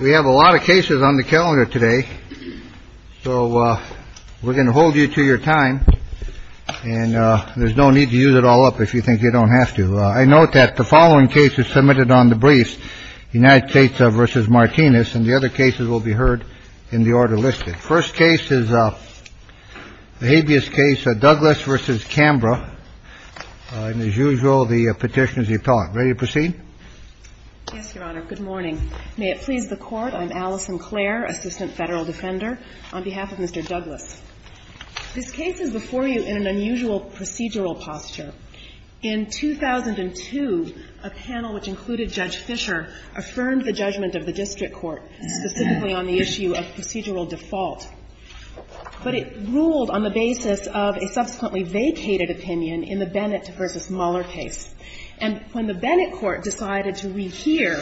We have a lot of cases on the calendar today, so we're going to hold you to your time and there's no need to use it all up if you think you don't have to. I note that the following case is submitted on the briefs, United States versus Martinez, and the other cases will be heard in the order listed. First case is a habeas case, Douglas versus Canberra, and as usual, the petition is the appellate. Ready to proceed? Yes, Your Honor. Good morning. May it please the Court, I'm Allison Clare, Assistant Federal Defender, on behalf of Mr. Douglas. This case is before you in an unusual procedural posture. In 2002, a panel which included Judge Fischer affirmed the judgment of the district court specifically on the issue of procedural default. But it ruled on the basis of a subsequently vacated opinion in the Bennett versus Mueller case. And when the Bennett court decided to rehear,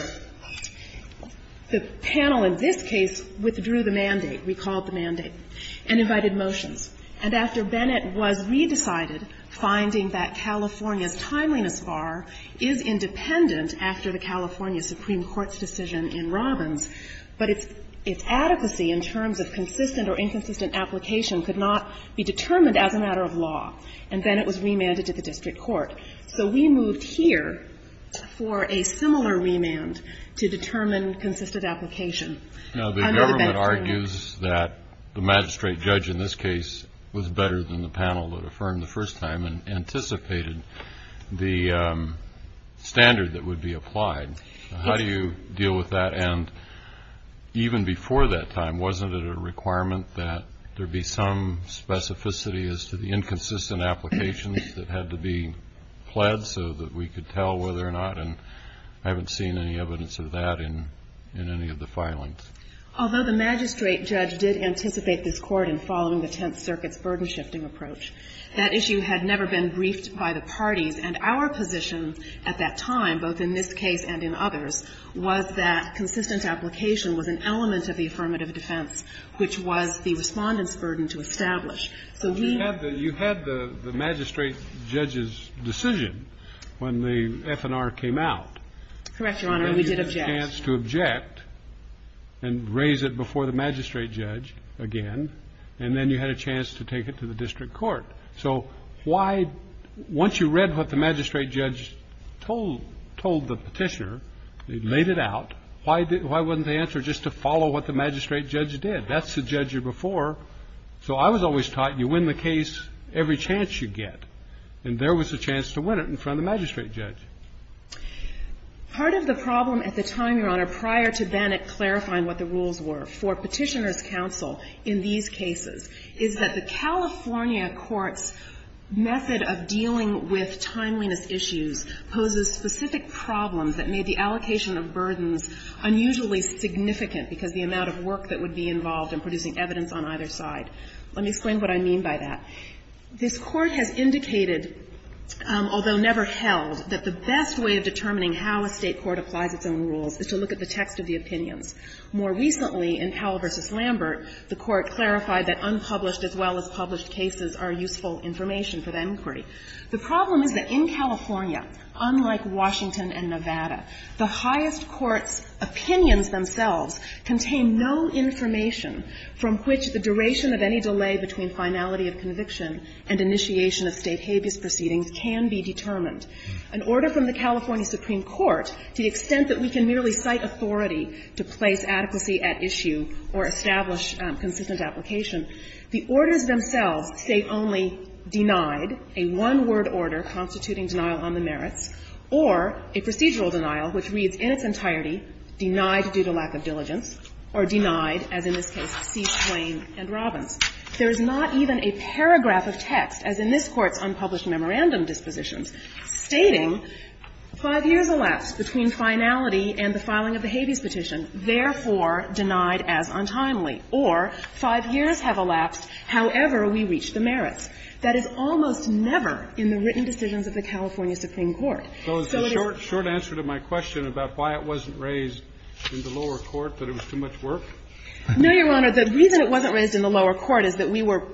the panel in this case withdrew the mandate, recalled the mandate, and invited motions. And after Bennett was re-decided, finding that California's timeliness bar is independent after the California Supreme Court's decision in Robbins, but its adequacy in terms of consistent or inconsistent application could not be determined as a matter of law, and Bennett was remanded to the district court. So we moved here for a similar remand to determine consistent application. Now, the government argues that the magistrate judge in this case was better than the panel that affirmed the first time and anticipated the standard that would be applied. How do you deal with that? And even before that time, wasn't it a requirement that there be some specificity as to the inconsistent applications that had to be pledged so that we could tell whether or not, and I haven't seen any evidence of that in any of the filings? Although the magistrate judge did anticipate this court in following the Tenth Circuit's burden-shifting approach, that issue had never been briefed by the parties. And our position at that time, both in this case and in others, was that consistent application was an element of the affirmative defense, which was the Respondent's burden to establish. So we had the You had the magistrate judge's decision when the FNR came out. Correct, Your Honor. We did object to object and raise it before the magistrate judge again. And then you had a chance to take it to the district court. So why, once you read what the magistrate judge told, told the petitioner, they laid it out, why didn't, why wasn't the answer just to follow what the magistrate judge did? That's the judge you're before. So I was always taught you win the case every chance you get. And there was a chance to win it in front of the magistrate judge. Part of the problem at the time, Your Honor, prior to Bannock clarifying what the rules were for Petitioner's counsel in these cases, is that the California court's method of dealing with timeliness issues poses specific problems that made the allocation of burdens unusually significant, because the amount of work that a state court has to do is to look at the text of the opinions. More recently in Powell v. Lambert, the Court clarified that unpublished as well as published cases are useful information for the inquiry. The problem is that in California, unlike Washington and Nevada, the highest court's from which the duration of any delay between finality of conviction and initiation of state habeas proceedings can be determined. An order from the California Supreme Court, to the extent that we can merely cite authority to place adequacy at issue or establish consistent application, the orders themselves say only denied, a one-word order constituting denial on the merits, or a procedural denial which reads in its entirety, denied due to lack of diligence, or denied, as in this case, C. Swain v. Robbins. There is not even a paragraph of text, as in this Court's unpublished memorandum dispositions, stating 5 years elapsed between finality and the filing of the habeas petition, therefore denied as untimely, or 5 years have elapsed, however we reach the merits. That is almost never in the written decisions of the California Supreme Court. So it is not. Kennedy, did you raise in the lower court that it was too much work? No, Your Honor. The reason it wasn't raised in the lower court is that we were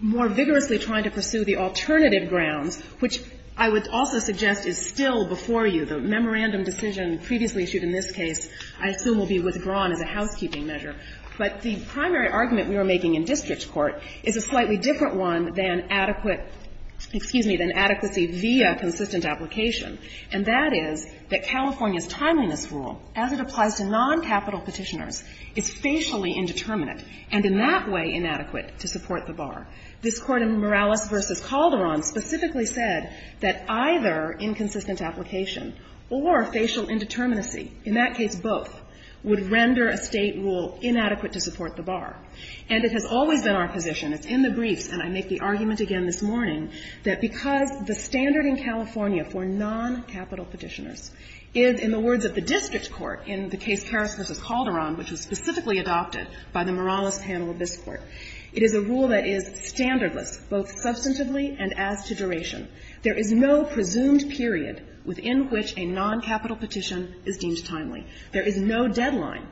more vigorously trying to pursue the alternative grounds, which I would also suggest is still before you. The memorandum decision previously issued in this case, I assume, will be withdrawn as a housekeeping measure. But the primary argument we were making in district court is a slightly different one than adequate excuse me, than adequacy via consistent application, and that is that California's timeliness rule, as it applies to noncapital Petitioners, is facially indeterminate and in that way inadequate to support the bar. This Court in Morales v. Calderon specifically said that either inconsistent application or facial indeterminacy, in that case both, would render a State rule inadequate to support the bar. And it has always been our position, it's in the briefs, and I make the argument again this morning, that because the standard in California for noncapital Petitioners is, in the words of the district court in the case Carras v. Calderon, which was specifically adopted by the Morales panel of this Court, it is a rule that is standardless, both substantively and as to duration. There is no presumed period within which a noncapital Petition is deemed timely. There is no deadline.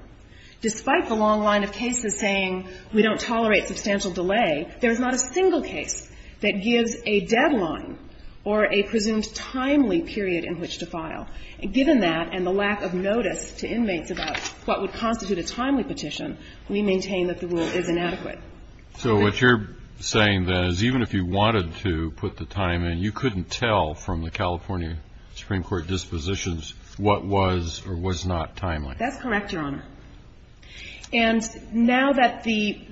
Despite the long line of cases saying we don't tolerate substantial delay, there is not a single case that gives a deadline or a presumed timely period in which to file. Given that and the lack of notice to inmates about what would constitute a timely petition, we maintain that the rule is inadequate. So what you're saying, then, is even if you wanted to put the time in, you couldn't tell from the California Supreme Court dispositions what was or was not timely. That's correct, Your Honor. And now that the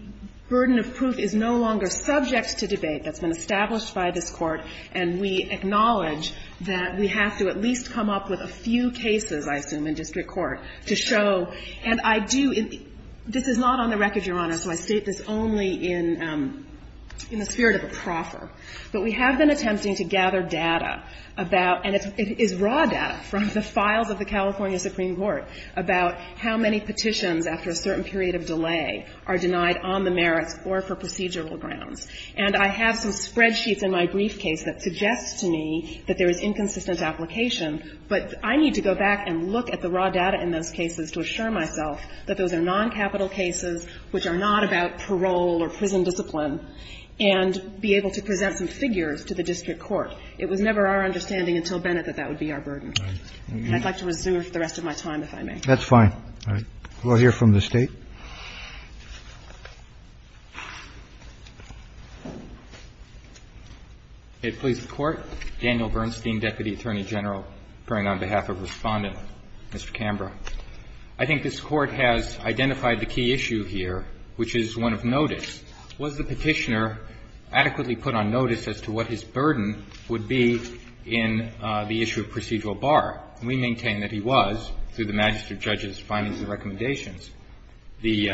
burden of proof is no longer subject to debate that's been established by this Court, and we acknowledge that we have to at least come up with a few cases, I assume, in district court to show, and I do – this is not on the record, Your Honor, so I state this only in the spirit of a proffer. But we have been attempting to gather data about – and it is raw data from the files of the California Supreme Court about how many petitions after a certain period of delay are denied on the merits or for procedural grounds. And I have some spreadsheets in my briefcase that suggest to me that there is inconsistent application, but I need to go back and look at the raw data in those cases to assure myself that those are noncapital cases which are not about parole or prison discipline and be able to present some figures to the district court. It was never our understanding until Bennett that that would be our burden. And I'd like to resume for the rest of my time, if I may. That's fine. All right. We'll hear from the State. Daniel Bernstein, Deputy Attorney General, praying on behalf of Respondent, Mr. Canberra. I think this Court has identified the key issue here, which is one of notice. Was the Petitioner adequately put on notice as to what his burden would be in the issue of procedural bar? We maintain that he was, through the magistrate judge's findings and recommendations. The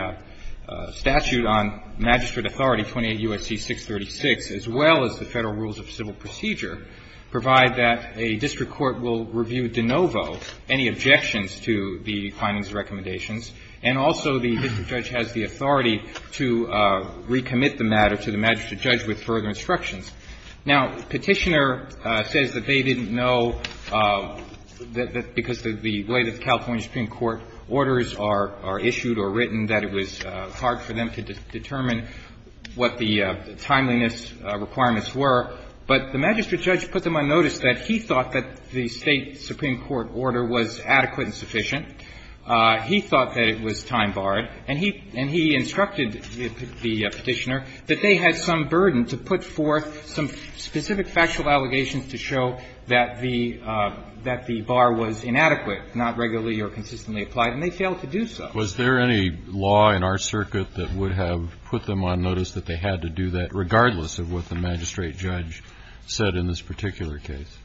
statute on magistrate authority 28 U.S.C. 636, as well as the Federal Rules of Civil Procedure, provide that a district court will review de novo any objections to the findings and recommendations, and also the district judge has the authority to recommit the matter to the magistrate judge with further instructions. Now, Petitioner says that they didn't know that because the way that the California Supreme Court orders are issued or written, that it was hard for them to determine what the timeliness requirements were. But the magistrate judge put them on notice that he thought that the State supreme court order was adequate and sufficient. He thought that it was time-barred. And he instructed the Petitioner that they had some burden to put forth some specific factual allegations to show that the bar was inadequate, not regularly or consistently applied, and they failed to do so. Was there any law in our circuit that would have put them on notice that they had to do that, regardless of what the magistrate judge said in this particular case?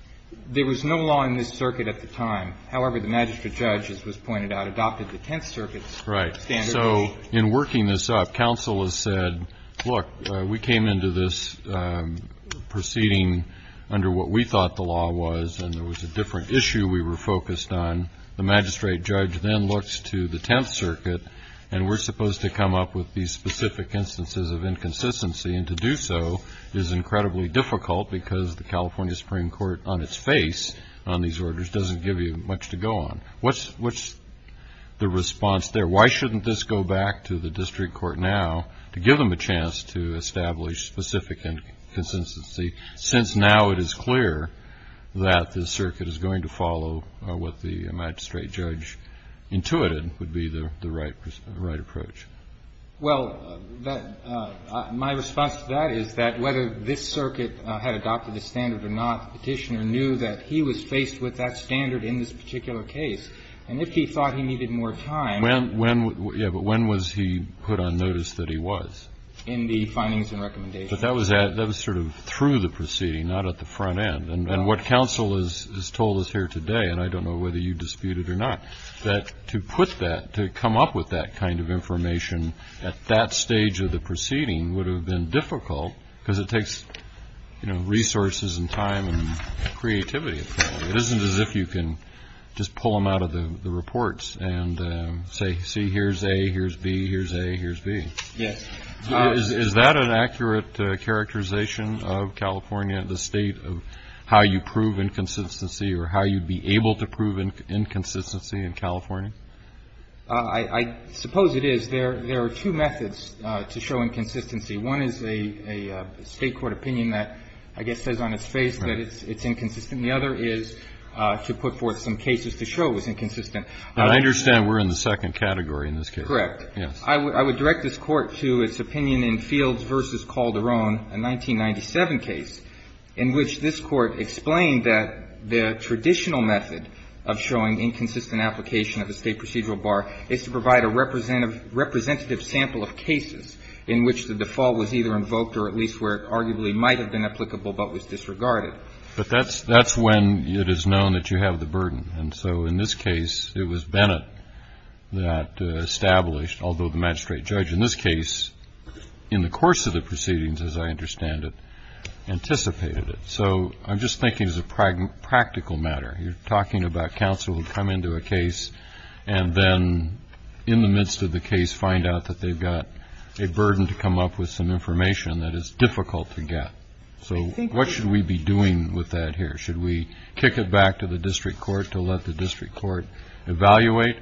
There was no law in this circuit at the time. However, the magistrate judge, as was pointed out, adopted the Tenth Circuit's standard. Right. So in working this up, counsel has said, look, we came into this proceeding under what we thought the law was, and there was a different issue we were focused on. The magistrate judge then looks to the Tenth Circuit, and we're supposed to come up with these specific instances of inconsistency. And to do so is incredibly difficult, because the California Supreme Court, on its face, on these orders, doesn't give you much to go on. What's the response there? Why shouldn't this go back to the district court now to give them a chance to establish specific inconsistency, since now it is clear that the circuit is going to follow what the magistrate judge intuited would be the right approach? Well, my response to that is that whether this circuit had adopted the standard or not, the Petitioner knew that he was faced with that standard in this particular case. And if he thought he needed more time. When, yeah, but when was he put on notice that he was? In the findings and recommendations. But that was sort of through the proceeding, not at the front end. And what counsel has told us here today, and I don't know whether you disputed or not, that to put that, to come up with that kind of information at that stage of the proceeding would have been difficult, because it takes resources and time and creativity, apparently. It isn't as if you can just pull them out of the reports and say, see, here's A, here's B, here's A, here's B. Yes. Is that an accurate characterization of California, the state of how you prove inconsistency or how you'd be able to prove inconsistency in California? I suppose it is. There are two methods to show inconsistency. One is a state court opinion that, I guess, says on its face that it's inconsistent. The other is to put forth some cases to show it was inconsistent. I understand we're in the second category in this case. Correct. Yes. I would direct this Court to its opinion in Fields v. Calderon, a 1997 case, in which this Court explained that the traditional method of showing inconsistent application of a state procedural bar is to provide a representative sample of cases in which the default was either invoked or at least where it arguably might have been applicable but was disregarded. But that's when it is known that you have the burden. And so in this case, it was Bennett that established, although the magistrate judge in this case, in the course of the proceedings, as I understand it, anticipated it. So I'm just thinking as a practical matter. You're talking about counsel would come into a case and then, in the midst of the case, find out that they've got a burden to come up with some information that is difficult to get. So what should we be doing with that here? Should we kick it back to the district court to let the district court evaluate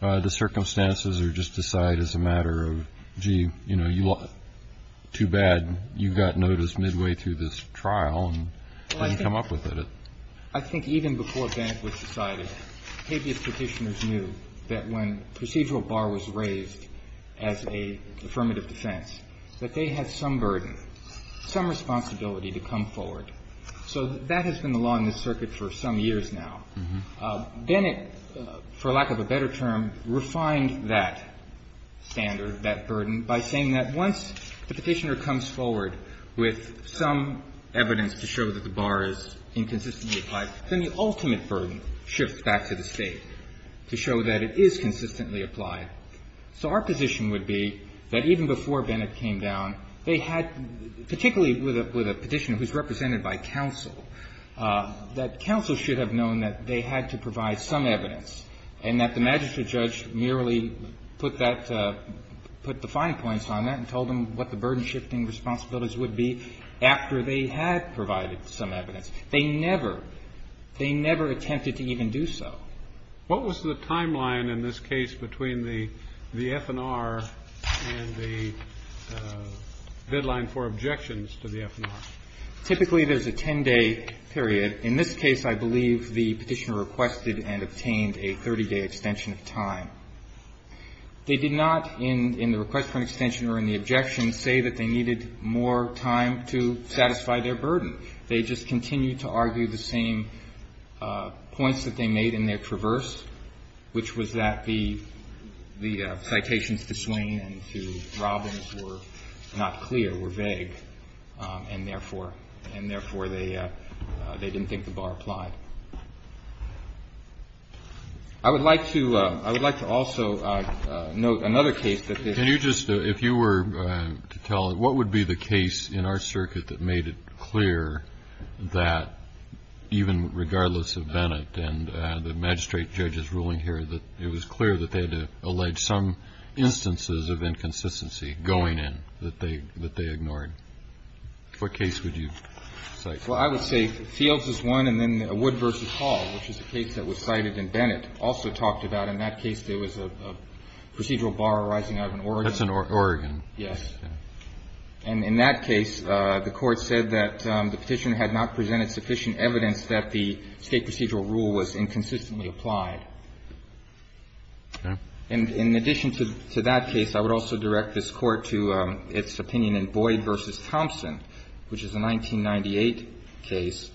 the circumstances or just decide as a matter of, gee, you know, too bad you got noticed midway through this trial and didn't come up with it? I think even before Bennett was decided, habeas petitioners knew that when procedural bar was raised as an affirmative defense, that they had some burden, some responsibility to come forward. So that has been the law in this circuit for some years now. Bennett, for lack of a better term, refined that standard, that burden, by saying that once the petitioner comes forward with some evidence to show that the bar is inconsistently applied, then the ultimate burden shifts back to the State to show that it is consistently applied. So our position would be that even before Bennett came down, they had, particularly with a petitioner who's represented by counsel, that counsel should have known that they had to provide some evidence and that the magistrate judge merely put that to, put the fine points on that and told them what the burden-shifting responsibilities would be after they had provided some evidence. They never, they never attempted to even do so. What was the timeline in this case between the FNR and the deadline for objections to the FNR? Typically, there's a 10-day period. In this case, I believe the petitioner requested and obtained a 30-day extension of time. They did not, in the request for an extension or in the objection, say that they needed more time to satisfy their burden. They just continued to argue the same points that they made in their traverse, which was that the, the citations to Swain and to Robbins were not clear, were vague. And therefore, and therefore, they, they didn't think the bar applied. I would like to, I would like to also note another case that this. If you just, if you were to tell what would be the case in our circuit that made it clear that even regardless of Bennett and the magistrate judge's ruling here, that it was clear that they had to allege some instances of inconsistency going in that they, that they ignored. What case would you cite? Well, I would say Fields is one, and then Wood v. Hall, which is a case that was cited in Bennett, also talked about. And in that case, there was a procedural bar arising out of an organ. That's an organ. Yes. And in that case, the Court said that the Petitioner had not presented sufficient evidence that the State procedural rule was inconsistently applied. Okay. And in addition to that case, I would also direct this Court to its opinion in Boyd v. Thompson, which is a 1998 case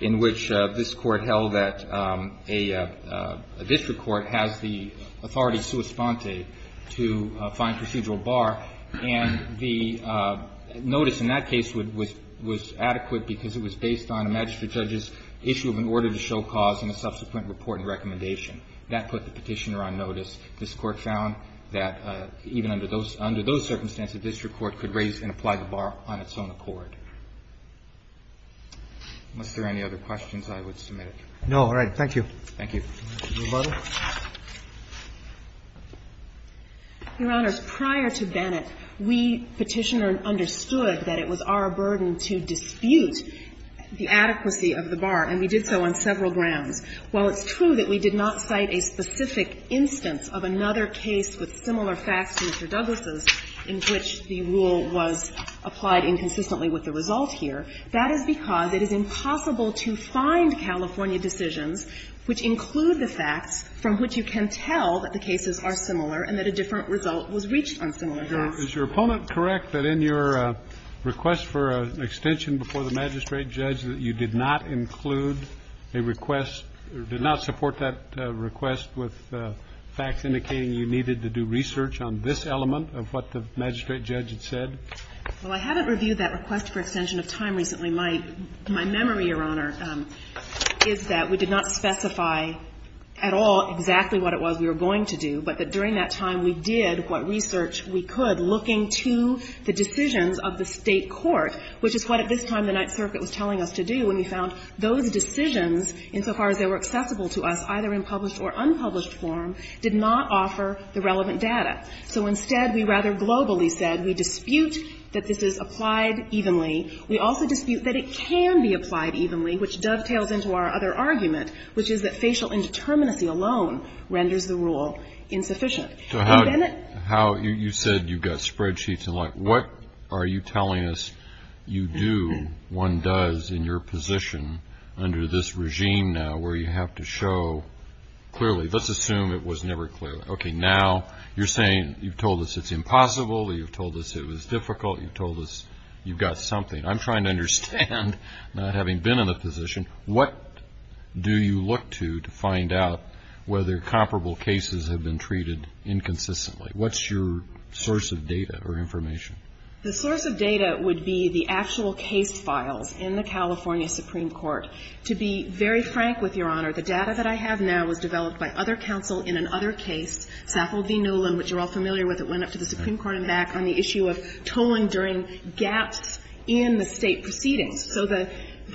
in which this Court held that a district court has the authority sui sponte to find procedural bar, and the notice in that case was adequate because it was based on a magistrate judge's issue of an order to show cause in a subsequent report and recommendation. That put the Petitioner on notice. This Court found that even under those circumstances, a district court could raise and apply the bar on its own accord. Unless there are any other questions, I would submit it. No. All right. Thank you. Thank you. Thank you, Your Honor. Your Honor, prior to Bennett, we, Petitioner, understood that it was our burden to dispute the adequacy of the bar, and we did so on several grounds. While it's true that we did not cite a specific instance of another case with similar facts to Mr. Douglas' in which the rule was applied inconsistently with the result here, that is because it is impossible to find California decisions which include the facts from which you can tell that the cases are similar and that a different result was reached on similar facts. Is your opponent correct that in your request for an extension before the magistrate judge that you did not include a request or did not support that request with facts indicating you needed to do research on this element of what the magistrate judge had said? Well, I haven't reviewed that request for extension of time recently. My memory, Your Honor, is that we did not specify at all exactly what it was we were going to do, but that during that time we did what research we could, looking to the decisions of the State court, which is what at this time the Ninth Circuit was telling us to do when we found those decisions, insofar as they were accessible to us, either in published or unpublished form, did not offer the relevant data. So instead, we rather globally said we dispute that this is applied evenly. We also dispute that it can be applied evenly, which dovetails into our other argument, which is that facial indeterminacy alone renders the rule insufficient. So how you said you got spreadsheets and what are you telling us you do, one does, in your position under this regime now where you have to show clearly. Let's assume it was never clear. Okay, now you're saying you've told us it's impossible, you've told us it was difficult, you've told us you've got something. I'm trying to understand, not having been in the position, what do you look to to find out whether comparable cases have been treated inconsistently? What's your source of data or information? The source of data would be the actual case files in the California Supreme Court. To be very frank with Your Honor, the data that I have now was developed by other counsel in another case, Saffold v. Nolan, which you're all familiar with. It went up to the Supreme Court and back on the issue of tolling during gaps in the State proceedings. So the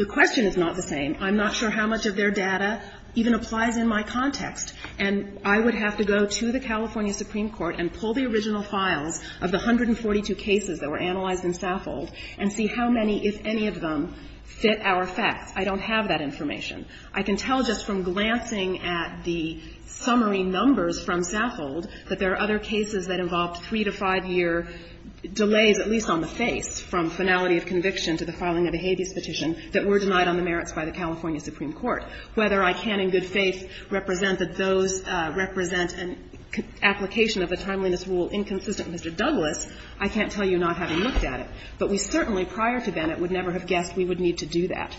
question is not the same. I'm not sure how much of their data even applies in my context. And I would have to go to the California Supreme Court and pull the original files of the 142 cases that were analyzed in Saffold and see how many, if any, of them fit our facts. I don't have that information. I can tell just from glancing at the summary numbers from Saffold that there are other cases that involved three- to five-year delays, at least on the face, from finality of conviction to the filing of a habeas petition that were denied on the merits by the California Supreme Court. Whether I can in good faith represent that those represent an application of a timeliness rule inconsistent with Mr. Douglas, I can't tell you not having looked at it. But we certainly, prior to Bennett, would never have guessed we would need to do that.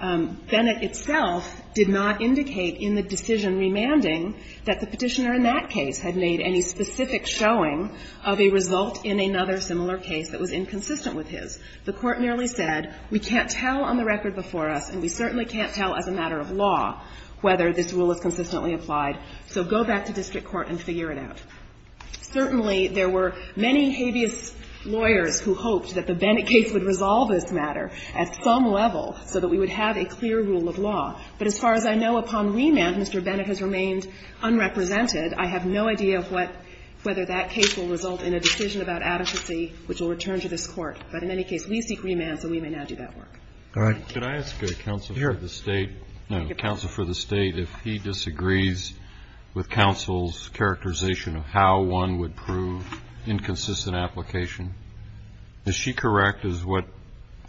Bennett itself did not indicate in the decision remanding that the Petitioner in that case had made any specific showing of a result in another similar case that was inconsistent with his. The Court merely said, we can't tell on the record before us and we certainly can't tell as a matter of law whether this rule is consistently applied, so go back to district court and figure it out. Certainly, there were many habeas lawyers who hoped that the Bennett case would resolve this matter at some level so that we would have a clear rule of law. But as far as I know, upon remand, Mr. Bennett has remained unrepresented. I have no idea of what – whether that case will result in a decision about adequacy which will return to this Court. But in any case, we seek remand, so we may now do that work. Roberts. Can I ask a counsel for the State, no, counsel for the State, if he disagrees with counsel's characterization of how one would prove inconsistent application? Is she correct as what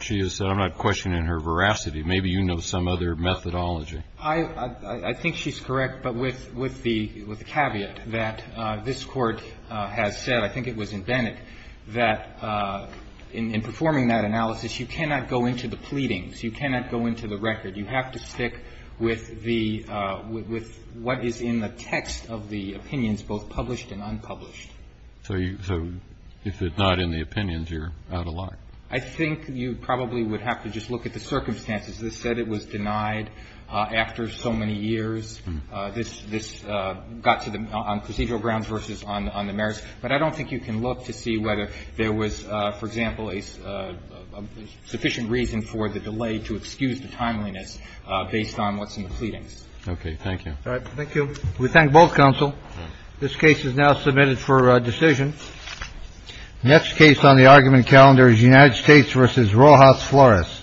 she has said? I'm not questioning her veracity. Maybe you know some other methodology. I think she's correct, but with the caveat that this Court has said, I think it was in Bennett, that in performing that analysis, you cannot go into the pleadings. You cannot go into the record. You have to stick with the – with what is in the text of the opinions, both published and unpublished. So if it's not in the opinions, you're out of luck. I think you probably would have to just look at the circumstances. This said it was denied after so many years. This got to the – on procedural grounds versus on the merits. But I don't think you can look to see whether there was, for example, a sufficient reason for the delay to excuse the timeliness based on what's in the pleadings. Okay. Thank you. Thank you. We thank both counsel. This case is now submitted for decision. Next case on the argument calendar is United States versus Rojas Flores.